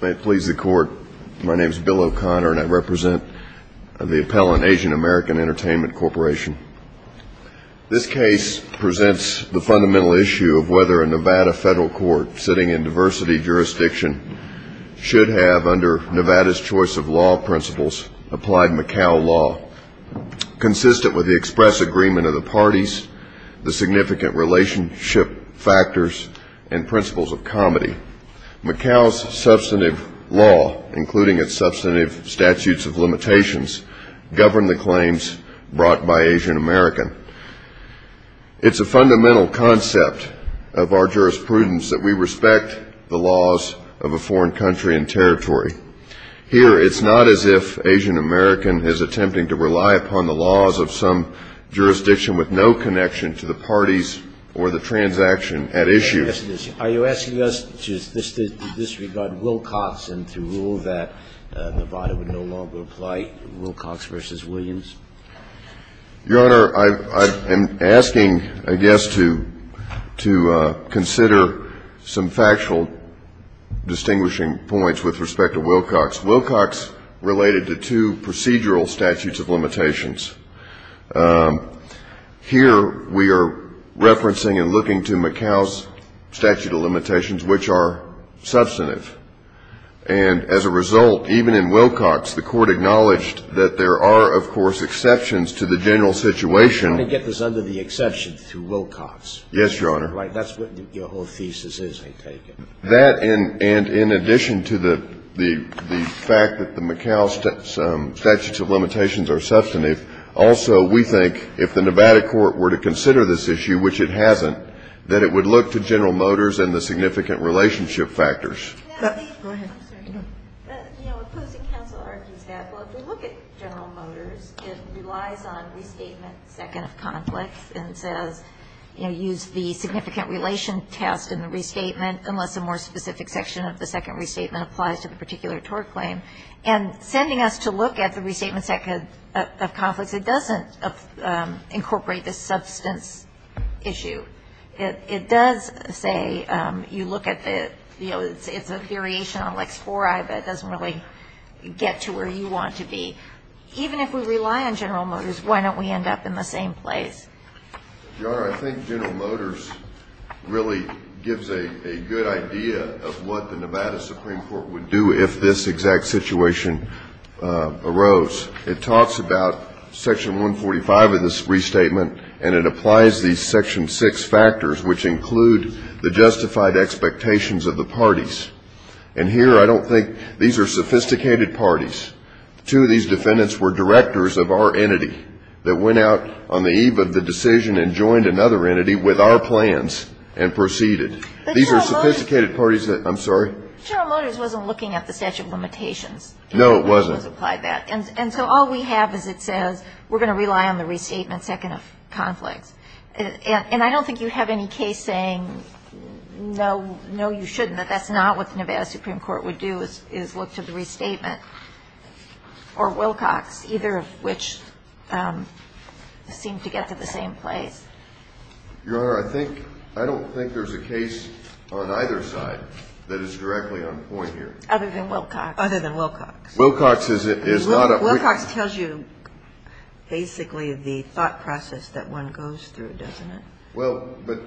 May it please the court, my name is Bill O'Connor and I represent the appellant Asian American Entertainment Corporation. This case presents the fundamental issue of whether a Nevada federal court sitting in diversity jurisdiction should have under Nevada's choice of law principles applied Macau law. Consistent with the express agreement of the parties, the significant relationship factors and principles of comedy, Macau's substantive law, including its substantive statutes of limitations, govern the claims brought by Asian American. It's a fundamental concept of our jurisprudence that we respect the laws of a foreign country and territory. Here it's not as if Asian American is attempting to rely upon the laws of some jurisdiction with no connection to the parties or the transaction at issue. Are you asking us to disregard Wilcox and to rule that Nevada would no longer apply Wilcox v. Williams? Your Honor, I'm asking, I guess, to consider some factual distinguishing points with respect to Wilcox. Wilcox related to two procedural statutes of limitations. Here we are referencing and looking to Macau's statute of limitations, which are substantive. And as a result, even in Wilcox, the Court acknowledged that there are, of course, exceptions to the general situation. Let me get this under the exception to Wilcox. Yes, Your Honor. Right. That's what your whole thesis is, I take it. That and in addition to the fact that the Macau statute of limitations are substantive, also we think if the Nevada court were to consider this issue, which it hasn't, that it would look to General Motors and the significant relationship factors. Go ahead. I'm sorry. Opposing counsel argues that, well, if we look at General Motors, it relies on restatement second of conflicts and says, you know, use the significant relation test in the restatement unless a more specific section of the second restatement applies to the particular tort claim. And sending us to look at the restatement second of conflicts, it doesn't incorporate the substance issue. It does say you look at the, you know, it's a variation on Lex IV-I, but it doesn't really get to where you want to be. Even if we rely on General Motors, why don't we end up in the same place? Your Honor, I think General Motors really gives a good idea of what the Nevada Supreme Court would do if this exact situation arose. It talks about section 145 of the restatement, and it applies these section 6 factors, which include the justified expectations of the parties. And here I don't think these are sophisticated parties. Two of these defendants were directors of our entity that went out on the eve of the decision and joined another entity with our plans and proceeded. These are sophisticated parties that, I'm sorry? General Motors wasn't looking at the statute of limitations. No, it wasn't. And so all we have is it says we're going to rely on the restatement second of conflicts. And I don't think you have any case saying no, no, you shouldn't, that that's not what the Nevada Supreme Court would do is look to the restatement or Wilcox, either of which seem to get to the same place. Your Honor, I think, I don't think there's a case on either side that is directly on point here. Other than Wilcox. Other than Wilcox. Wilcox is not a. Wilcox tells you basically the thought process that one goes through, doesn't it? Well, but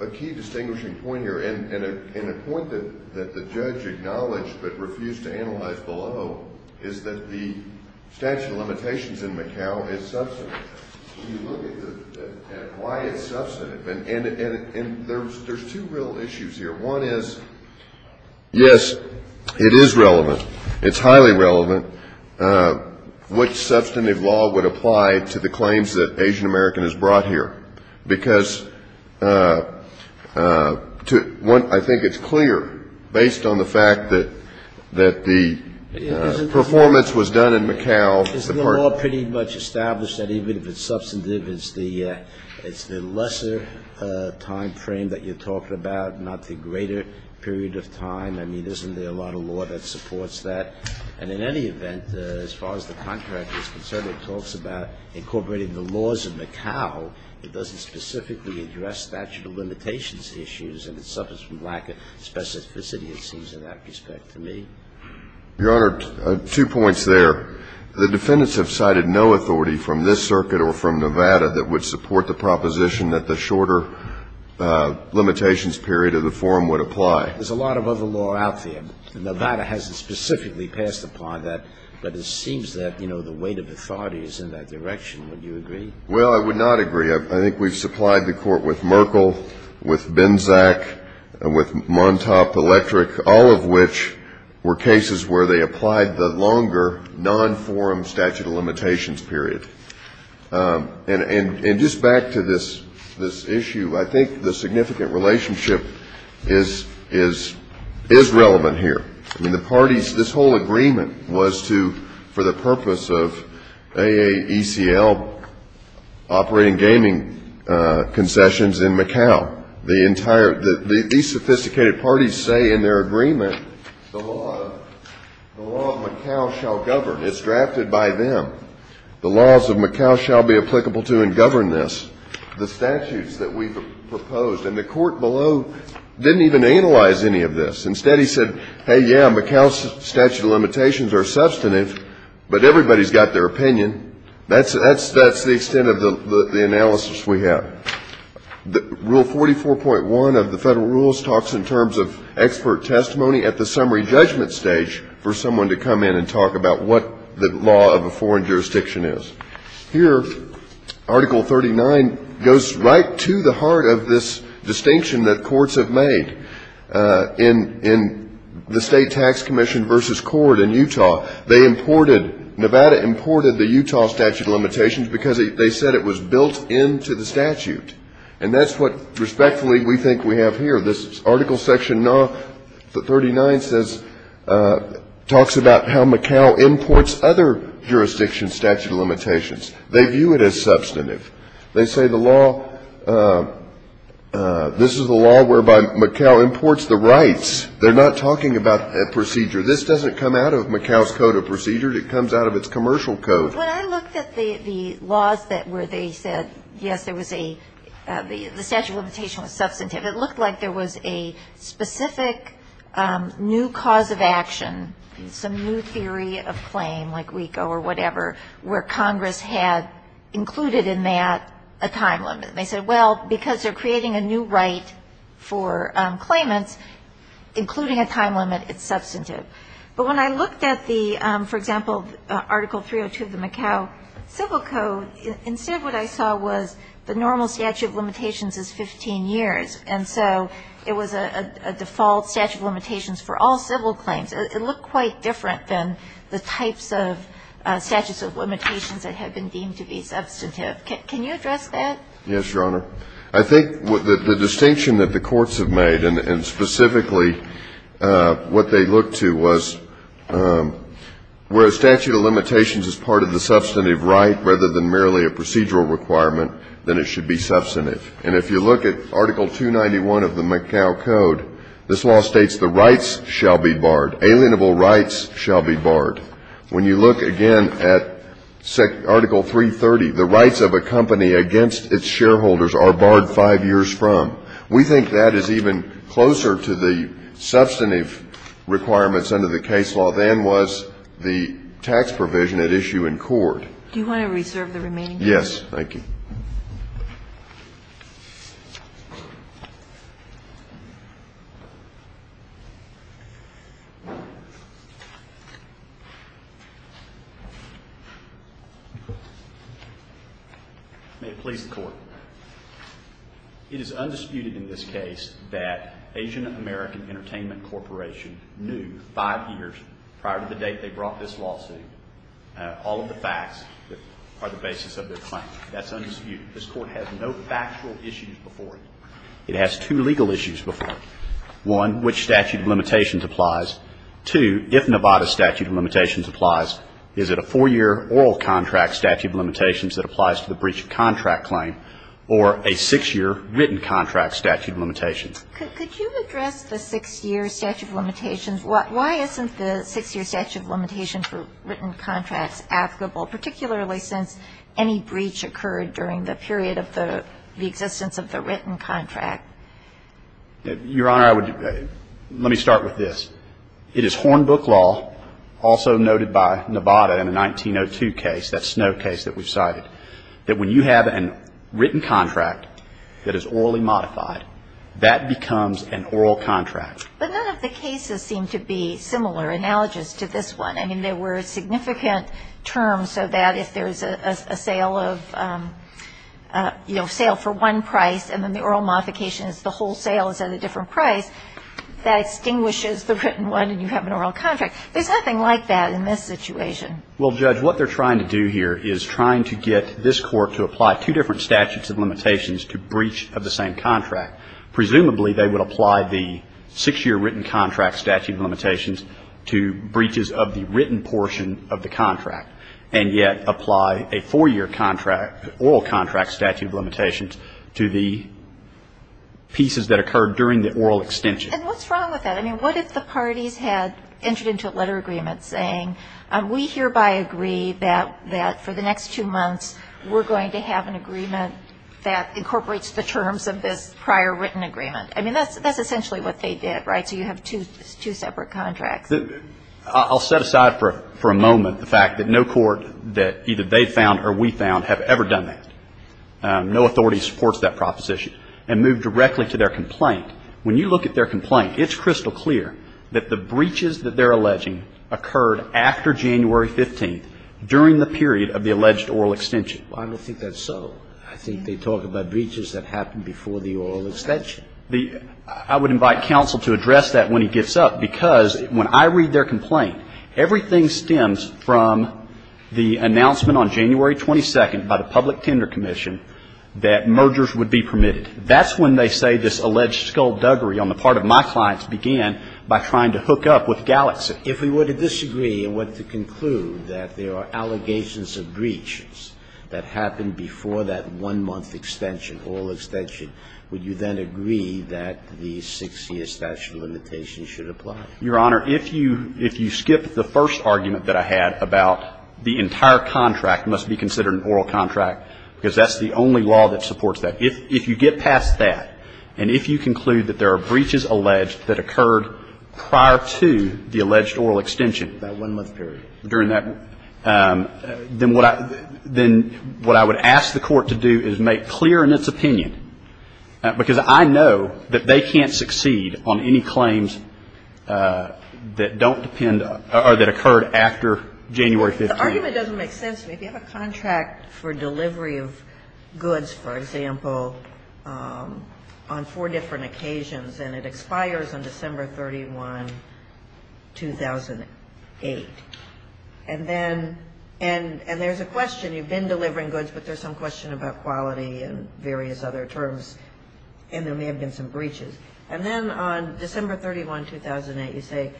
a key distinguishing point here, and a point that the judge acknowledged but refused to analyze below, is that the statute of limitations in Macau is substantive. When you look at why it's substantive, and there's two real issues here. One is, yes, it is relevant. It's highly relevant. What substantive law would apply to the claims that Asian American has brought here? Because I think it's clear, based on the fact that the performance was done in Macau. Isn't the law pretty much established that even if it's substantive, it's the lesser time frame that you're talking about, not the greater period of time? I mean, isn't there a lot of law that supports that? And in any event, as far as the contract is concerned, it talks about incorporating the laws of Macau. It doesn't specifically address statute of limitations issues, and it suffers from lack of specificity, it seems in that respect to me. Your Honor, two points there. The defendants have cited no authority from this circuit or from Nevada that would support the proposition that the shorter limitations period of the forum would apply. There's a lot of other law out there. Nevada hasn't specifically passed upon that, but it seems that, you know, the weight of authority is in that direction. Would you agree? Well, I would not agree. I think we've supplied the Court with Merkel, with Benzac, with Montauk Electric, all of which were cases where they applied the longer non-forum statute of limitations period. And just back to this issue, I think the significant relationship is relevant here. I mean, the parties, this whole agreement was to, for the purpose of AACL operating gaming concessions in Macau. These sophisticated parties say in their agreement the law of Macau shall govern. It's drafted by them. The laws of Macau shall be applicable to and govern this. The statutes that we've proposed, and the Court below didn't even analyze any of this. Instead, he said, hey, yeah, Macau's statute of limitations are substantive, but everybody's got their opinion. That's the extent of the analysis we have. Rule 44.1 of the Federal Rules talks in terms of expert testimony at the summary judgment stage for someone to come in and talk about what the law of a foreign jurisdiction is. Here, Article 39 goes right to the heart of this distinction that courts have made. In the state tax commission versus court in Utah, they imported, Nevada imported the statute. And that's what, respectfully, we think we have here. This Article Section 39 says, talks about how Macau imports other jurisdiction statute of limitations. They view it as substantive. They say the law, this is the law whereby Macau imports the rights. They're not talking about a procedure. This doesn't come out of Macau's Code of Procedure. It comes out of its commercial code. When I looked at the laws where they said, yes, there was a, the statute of limitation was substantive, it looked like there was a specific new cause of action, some new theory of claim, like WICO or whatever, where Congress had included in that a time limit. And they said, well, because they're creating a new right for claimants, including a time limit, it's substantive. But when I looked at the, for example, Article 302 of the Macau Civil Code, instead of what I saw was the normal statute of limitations is 15 years. And so it was a default statute of limitations for all civil claims. It looked quite different than the types of statutes of limitations that had been deemed to be substantive. Can you address that? Yes, Your Honor. I think the distinction that the courts have made, and specifically what they look to, was where a statute of limitations is part of the substantive right rather than merely a procedural requirement, then it should be substantive. And if you look at Article 291 of the Macau Code, this law states the rights shall be barred. Alienable rights shall be barred. When you look again at Article 330, the rights of a company against its shareholders are barred five years from. We think that is even closer to the substantive requirements under the case law than was the tax provision at issue in court. Do you want to reserve the remaining time? Thank you. May it please the Court. It is undisputed in this case that Asian American Entertainment Corporation knew five years prior to the date they brought this lawsuit all of the facts that are the basis of their claim. That's undisputed. This Court has no factual issues before it. It has two legal issues before it. One, which statute of limitations applies? Two, if Nevada statute of limitations applies, is it a four-year oral contract statute of limitations that applies to the breach of contract claim or a six-year written contract statute of limitations? Could you address the six-year statute of limitations? Why isn't the six-year statute of limitations for written contracts applicable, particularly since any breach occurred during the period of the existence of the written contract? Your Honor, I would, let me start with this. It is Hornbook law, also noted by Nevada in the 1902 case, that Snow case that we've cited, that when you have a written contract that is orally modified, that becomes an oral contract. But none of the cases seem to be similar analogous to this one. I mean, there were significant terms so that if there's a sale of, you know, sale for one price and then the oral modification is the whole sale is at a different price, that extinguishes the written one and you have an oral contract. There's nothing like that in this situation. Well, Judge, what they're trying to do here is trying to get this Court to apply two different statutes of limitations to breach of the same contract. Presumably, they would apply the six-year written contract statute of limitations to breaches of the written portion of the contract and yet apply a four-year contract, oral contract statute of limitations to the pieces that occurred during the oral extension. And what's wrong with that? I mean, what if the parties had entered into a letter agreement saying we hereby agree that for the next two months we're going to have an agreement that incorporates the terms of this prior written agreement? I mean, that's essentially what they did, right? So you have two separate contracts. I'll set aside for a moment the fact that no court that either they found or we found have ever done that. No authority supports that proposition. And move directly to their complaint. When you look at their complaint, it's crystal clear that the breaches that they're alleging occurred after January 15th during the period of the alleged oral extension. I don't think that's so. I think they talk about breaches that happened before the oral extension. The – I would invite counsel to address that when he gets up, because when I read their complaint, everything stems from the announcement on January 22nd by the Public Tender Commission that mergers would be permitted. That's when they say this alleged skullduggery on the part of my clients began by trying to hook up with Gallatin. If we were to disagree and were to conclude that there are allegations of breaches that happened before that one-month extension, oral extension, would you then agree that the 6-year statute of limitations should apply? Your Honor, if you skip the first argument that I had about the entire contract must be considered an oral contract, because that's the only law that supports that, if you get past that and if you conclude that there are breaches alleged that occurred prior to the alleged oral extension. That one-month period. During that, then what I would ask the court to do is make clear in its opinion, because I know that they can't succeed on any claims that don't depend or that occurred after January 15th. The argument doesn't make sense to me. If you have a contract for delivery of goods, for example, on four different occasions and it expires on December 31, 2008, and then there's a question. You've been delivering goods, but there's some question about quality and various other terms and there may have been some breaches. And then on December 31, 2008, you say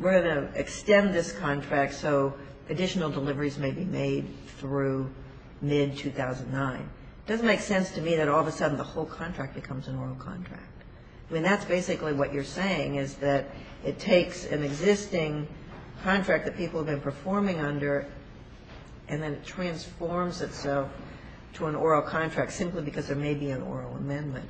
we're going to extend this contract so additional deliveries may be made through mid-2009. It doesn't make sense to me that all of a sudden the whole contract becomes an oral contract. I mean, that's basically what you're saying is that it takes an existing contract that people have been performing under and then it transforms itself to an oral contract simply because there may be an oral amendment.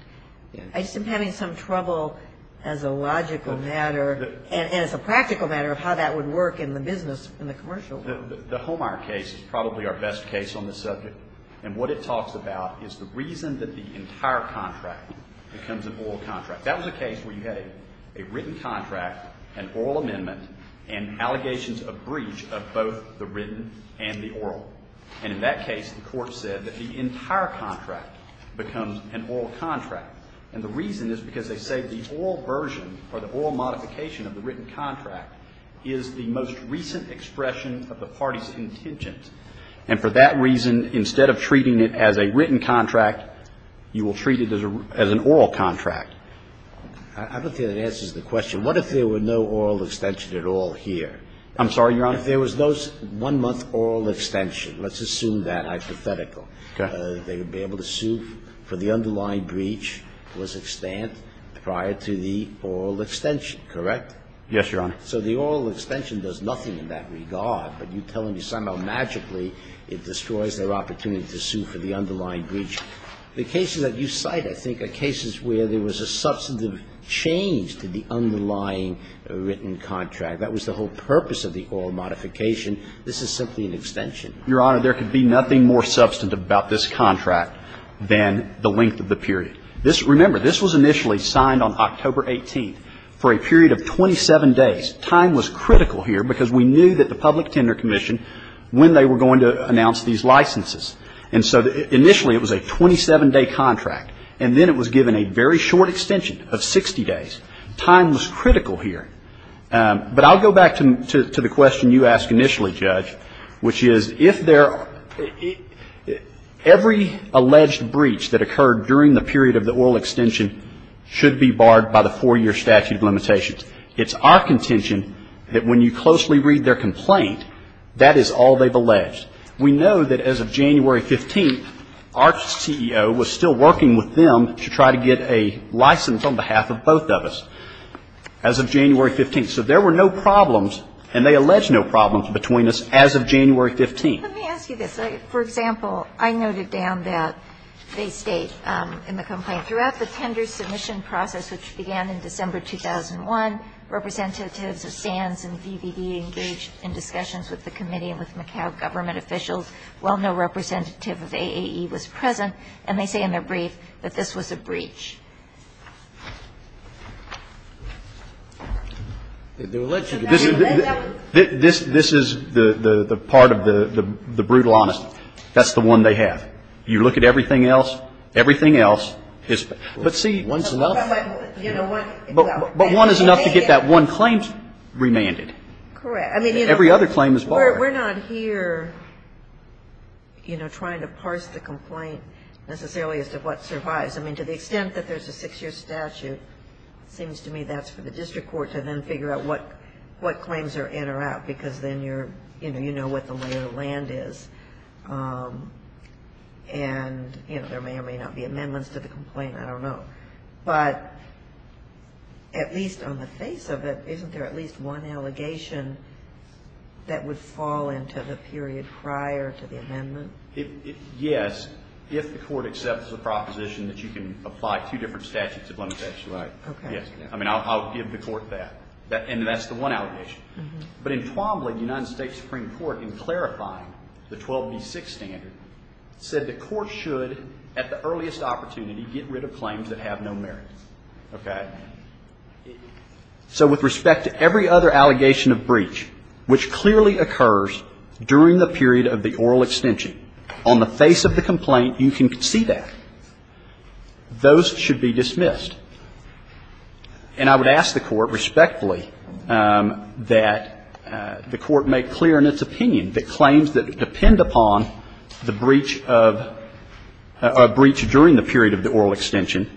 I just am having some trouble as a logical matter and as a practical matter of how that would work in the business, in the commercial world. The Homar case is probably our best case on the subject. And what it talks about is the reason that the entire contract becomes an oral contract. That was a case where you had a written contract, an oral amendment, and allegations of breach of both the written and the oral. And in that case, the Court said that the entire contract becomes an oral contract. And the reason is because they say the oral version or the oral modification of the written contract is the most recent expression of the party's intentions. And for that reason, instead of treating it as a written contract, you will treat it as an oral contract. I don't think that answers the question. What if there were no oral extension at all here? I'm sorry, Your Honor? If there was no one-month oral extension, let's assume that hypothetical. Okay. They would be able to sue for the underlying breach was extant prior to the oral extension, correct? Yes, Your Honor. So the oral extension does nothing in that regard, but you're telling me somehow magically it destroys their opportunity to sue for the underlying breach. The cases that you cite, I think, are cases where there was a substantive change to the underlying written contract. That was the whole purpose of the oral modification. This is simply an extension. Your Honor, there could be nothing more substantive about this contract than the length of the period. Remember, this was initially signed on October 18th for a period of 27 days. Time was critical here because we knew that the Public Tender Commission, when they were going to announce these licenses. And so initially it was a 27-day contract. And then it was given a very short extension of 60 days. Time was critical here. But I'll go back to the question you asked initially, Judge, which is if there were no problems, and they allege no problems between us as of January 15th. Let me ask you a question. I see this. For example, I noted down that they state in the complaint, Throughout the tender submission process, which began in December 2001, representatives of SANS and VVD engaged in discussions with the committee and with Macau government officials. While no representative of AAE was present. And they say in their brief that this was a breach. This is the part of the brutal honesty. That's the one they have. You look at everything else, everything else is, but see, one's enough. But one is enough to get that one claim remanded. Correct. Every other claim is barred. We're not here, you know, trying to parse the complaint necessarily as to what survives. To the extent that there's a six-year statute, it seems to me that's for the district court to then figure out what claims are in or out, because then you know what the lay of the land is. And there may or may not be amendments to the complaint. I don't know. But at least on the face of it, isn't there at least one allegation that would fall into the period prior to the amendment? Yes, if the court accepts the proposition that you can apply two different statutes of limitation. Right. Yes. I mean, I'll give the court that. And that's the one allegation. But in Twombly, the United States Supreme Court, in clarifying the 12B6 standard, said the court should, at the earliest opportunity, get rid of claims that have no merit. Okay? So with respect to every other allegation of breach, which clearly occurs during the period of the oral extension, on the face of the complaint, you can see that. Those should be dismissed. And I would ask the court respectfully that the court make clear in its opinion that claims that depend upon the breach of or breach during the period of the oral extension,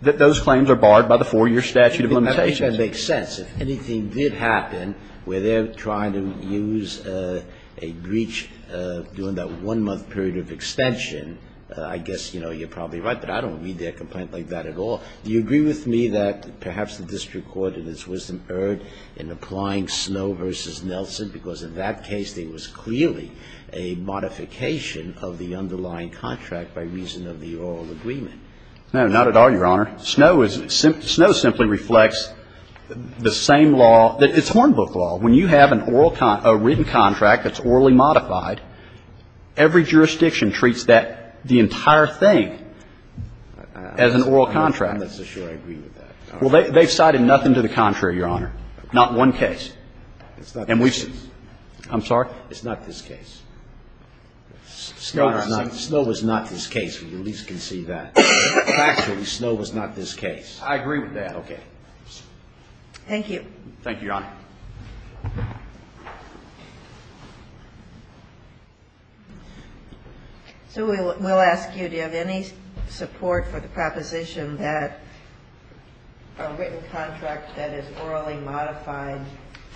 that those claims are barred by the four-year statute of limitations. That makes sense. If anything did happen where they're trying to use a breach during that one-month period of extension, I guess, you know, you're probably right. But I don't read their complaint like that at all. Do you agree with me that perhaps the district court in its wisdom erred in applying Snow v. Nelson because in that case there was clearly a modification of the underlying contract by reason of the oral agreement? No, not at all, Your Honor. Snow simply reflects the same law. It's Hornbook law. When you have a written contract that's orally modified, every jurisdiction treats that, the entire thing, as an oral contract. I'm not so sure I agree with that. Well, they've cited nothing to the contrary, Your Honor. Not one case. It's not this case. I'm sorry? It's not this case. Snow was not this case. We at least can see that. Factually, Snow was not this case. I agree with that. Okay. Thank you. Thank you, Your Honor. So we'll ask you, do you have any support for the proposition that a written contract that is orally modified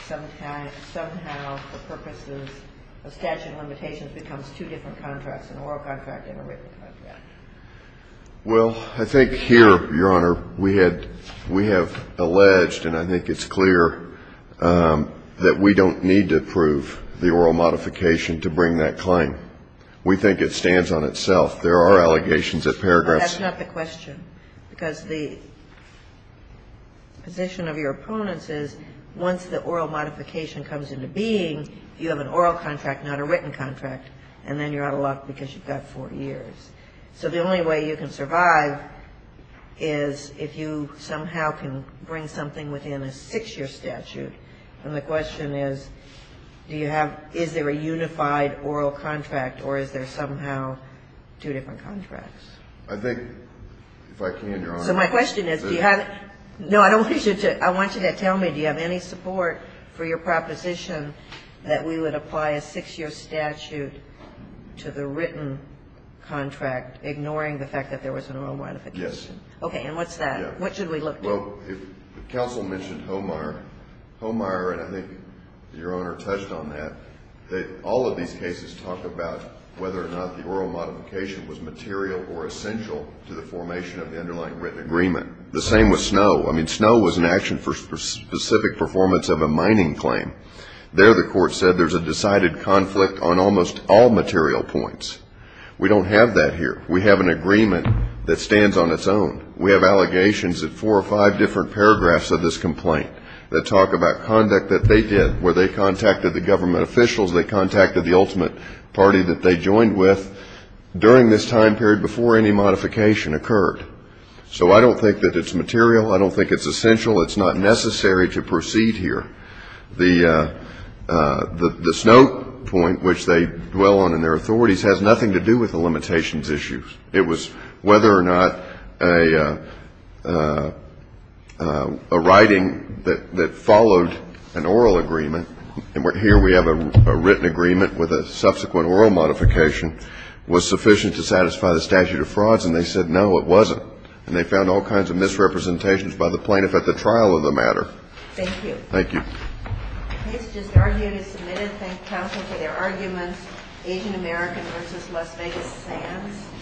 somehow for purposes of statute of limitations becomes two different contracts, an oral contract and a written contract? Well, I think here, Your Honor, we had we have alleged, and I think it's clear, that we don't need to approve the oral modification to bring that claim. We think it stands on itself. There are allegations at paragraphs. That's not the question, because the position of your opponents is once the oral modification comes into being, you have an oral contract, not a written contract, and then you're out of luck because you've got four years. So the only way you can survive is if you somehow can bring something within a six-year statute. And the question is, do you have is there a unified oral contract or is there somehow two different contracts? I think, if I can, Your Honor. So my question is, do you have no, I don't want you to I want you to tell me, do you have any support for your proposition that we would apply a six-year statute to the written contract, ignoring the fact that there was an oral modification? Yes. Okay. And what's that? What should we look to? Well, if counsel mentioned Hohmeier, Hohmeier, and I think Your Honor touched on that, that all of these cases talk about whether or not the oral modification was material or essential to the formation of the underlying written agreement. The same with Snowe. I mean, Snowe was an action for specific performance of a mining claim. There the court said there's a decided conflict on almost all material points. We don't have that here. We have an agreement that stands on its own. We have allegations in four or five different paragraphs of this complaint that talk about conduct that they did, where they contacted the government officials, they contacted the ultimate party that they joined with during this time period before any modification occurred. So I don't think that it's material. I don't think it's essential. It's not necessary to proceed here. The Snowe point, which they dwell on in their authorities, has nothing to do with the limitations issues. It was whether or not a writing that followed an oral agreement, and here we have a written agreement with a subsequent oral modification, was sufficient to satisfy the statute of frauds, and they said no, it wasn't. And they found all kinds of misrepresentations by the plaintiff at the trial of the matter. Thank you. Thank you. Case just argued and submitted. Thank counsel for their arguments. Asian American versus Las Vegas Sands.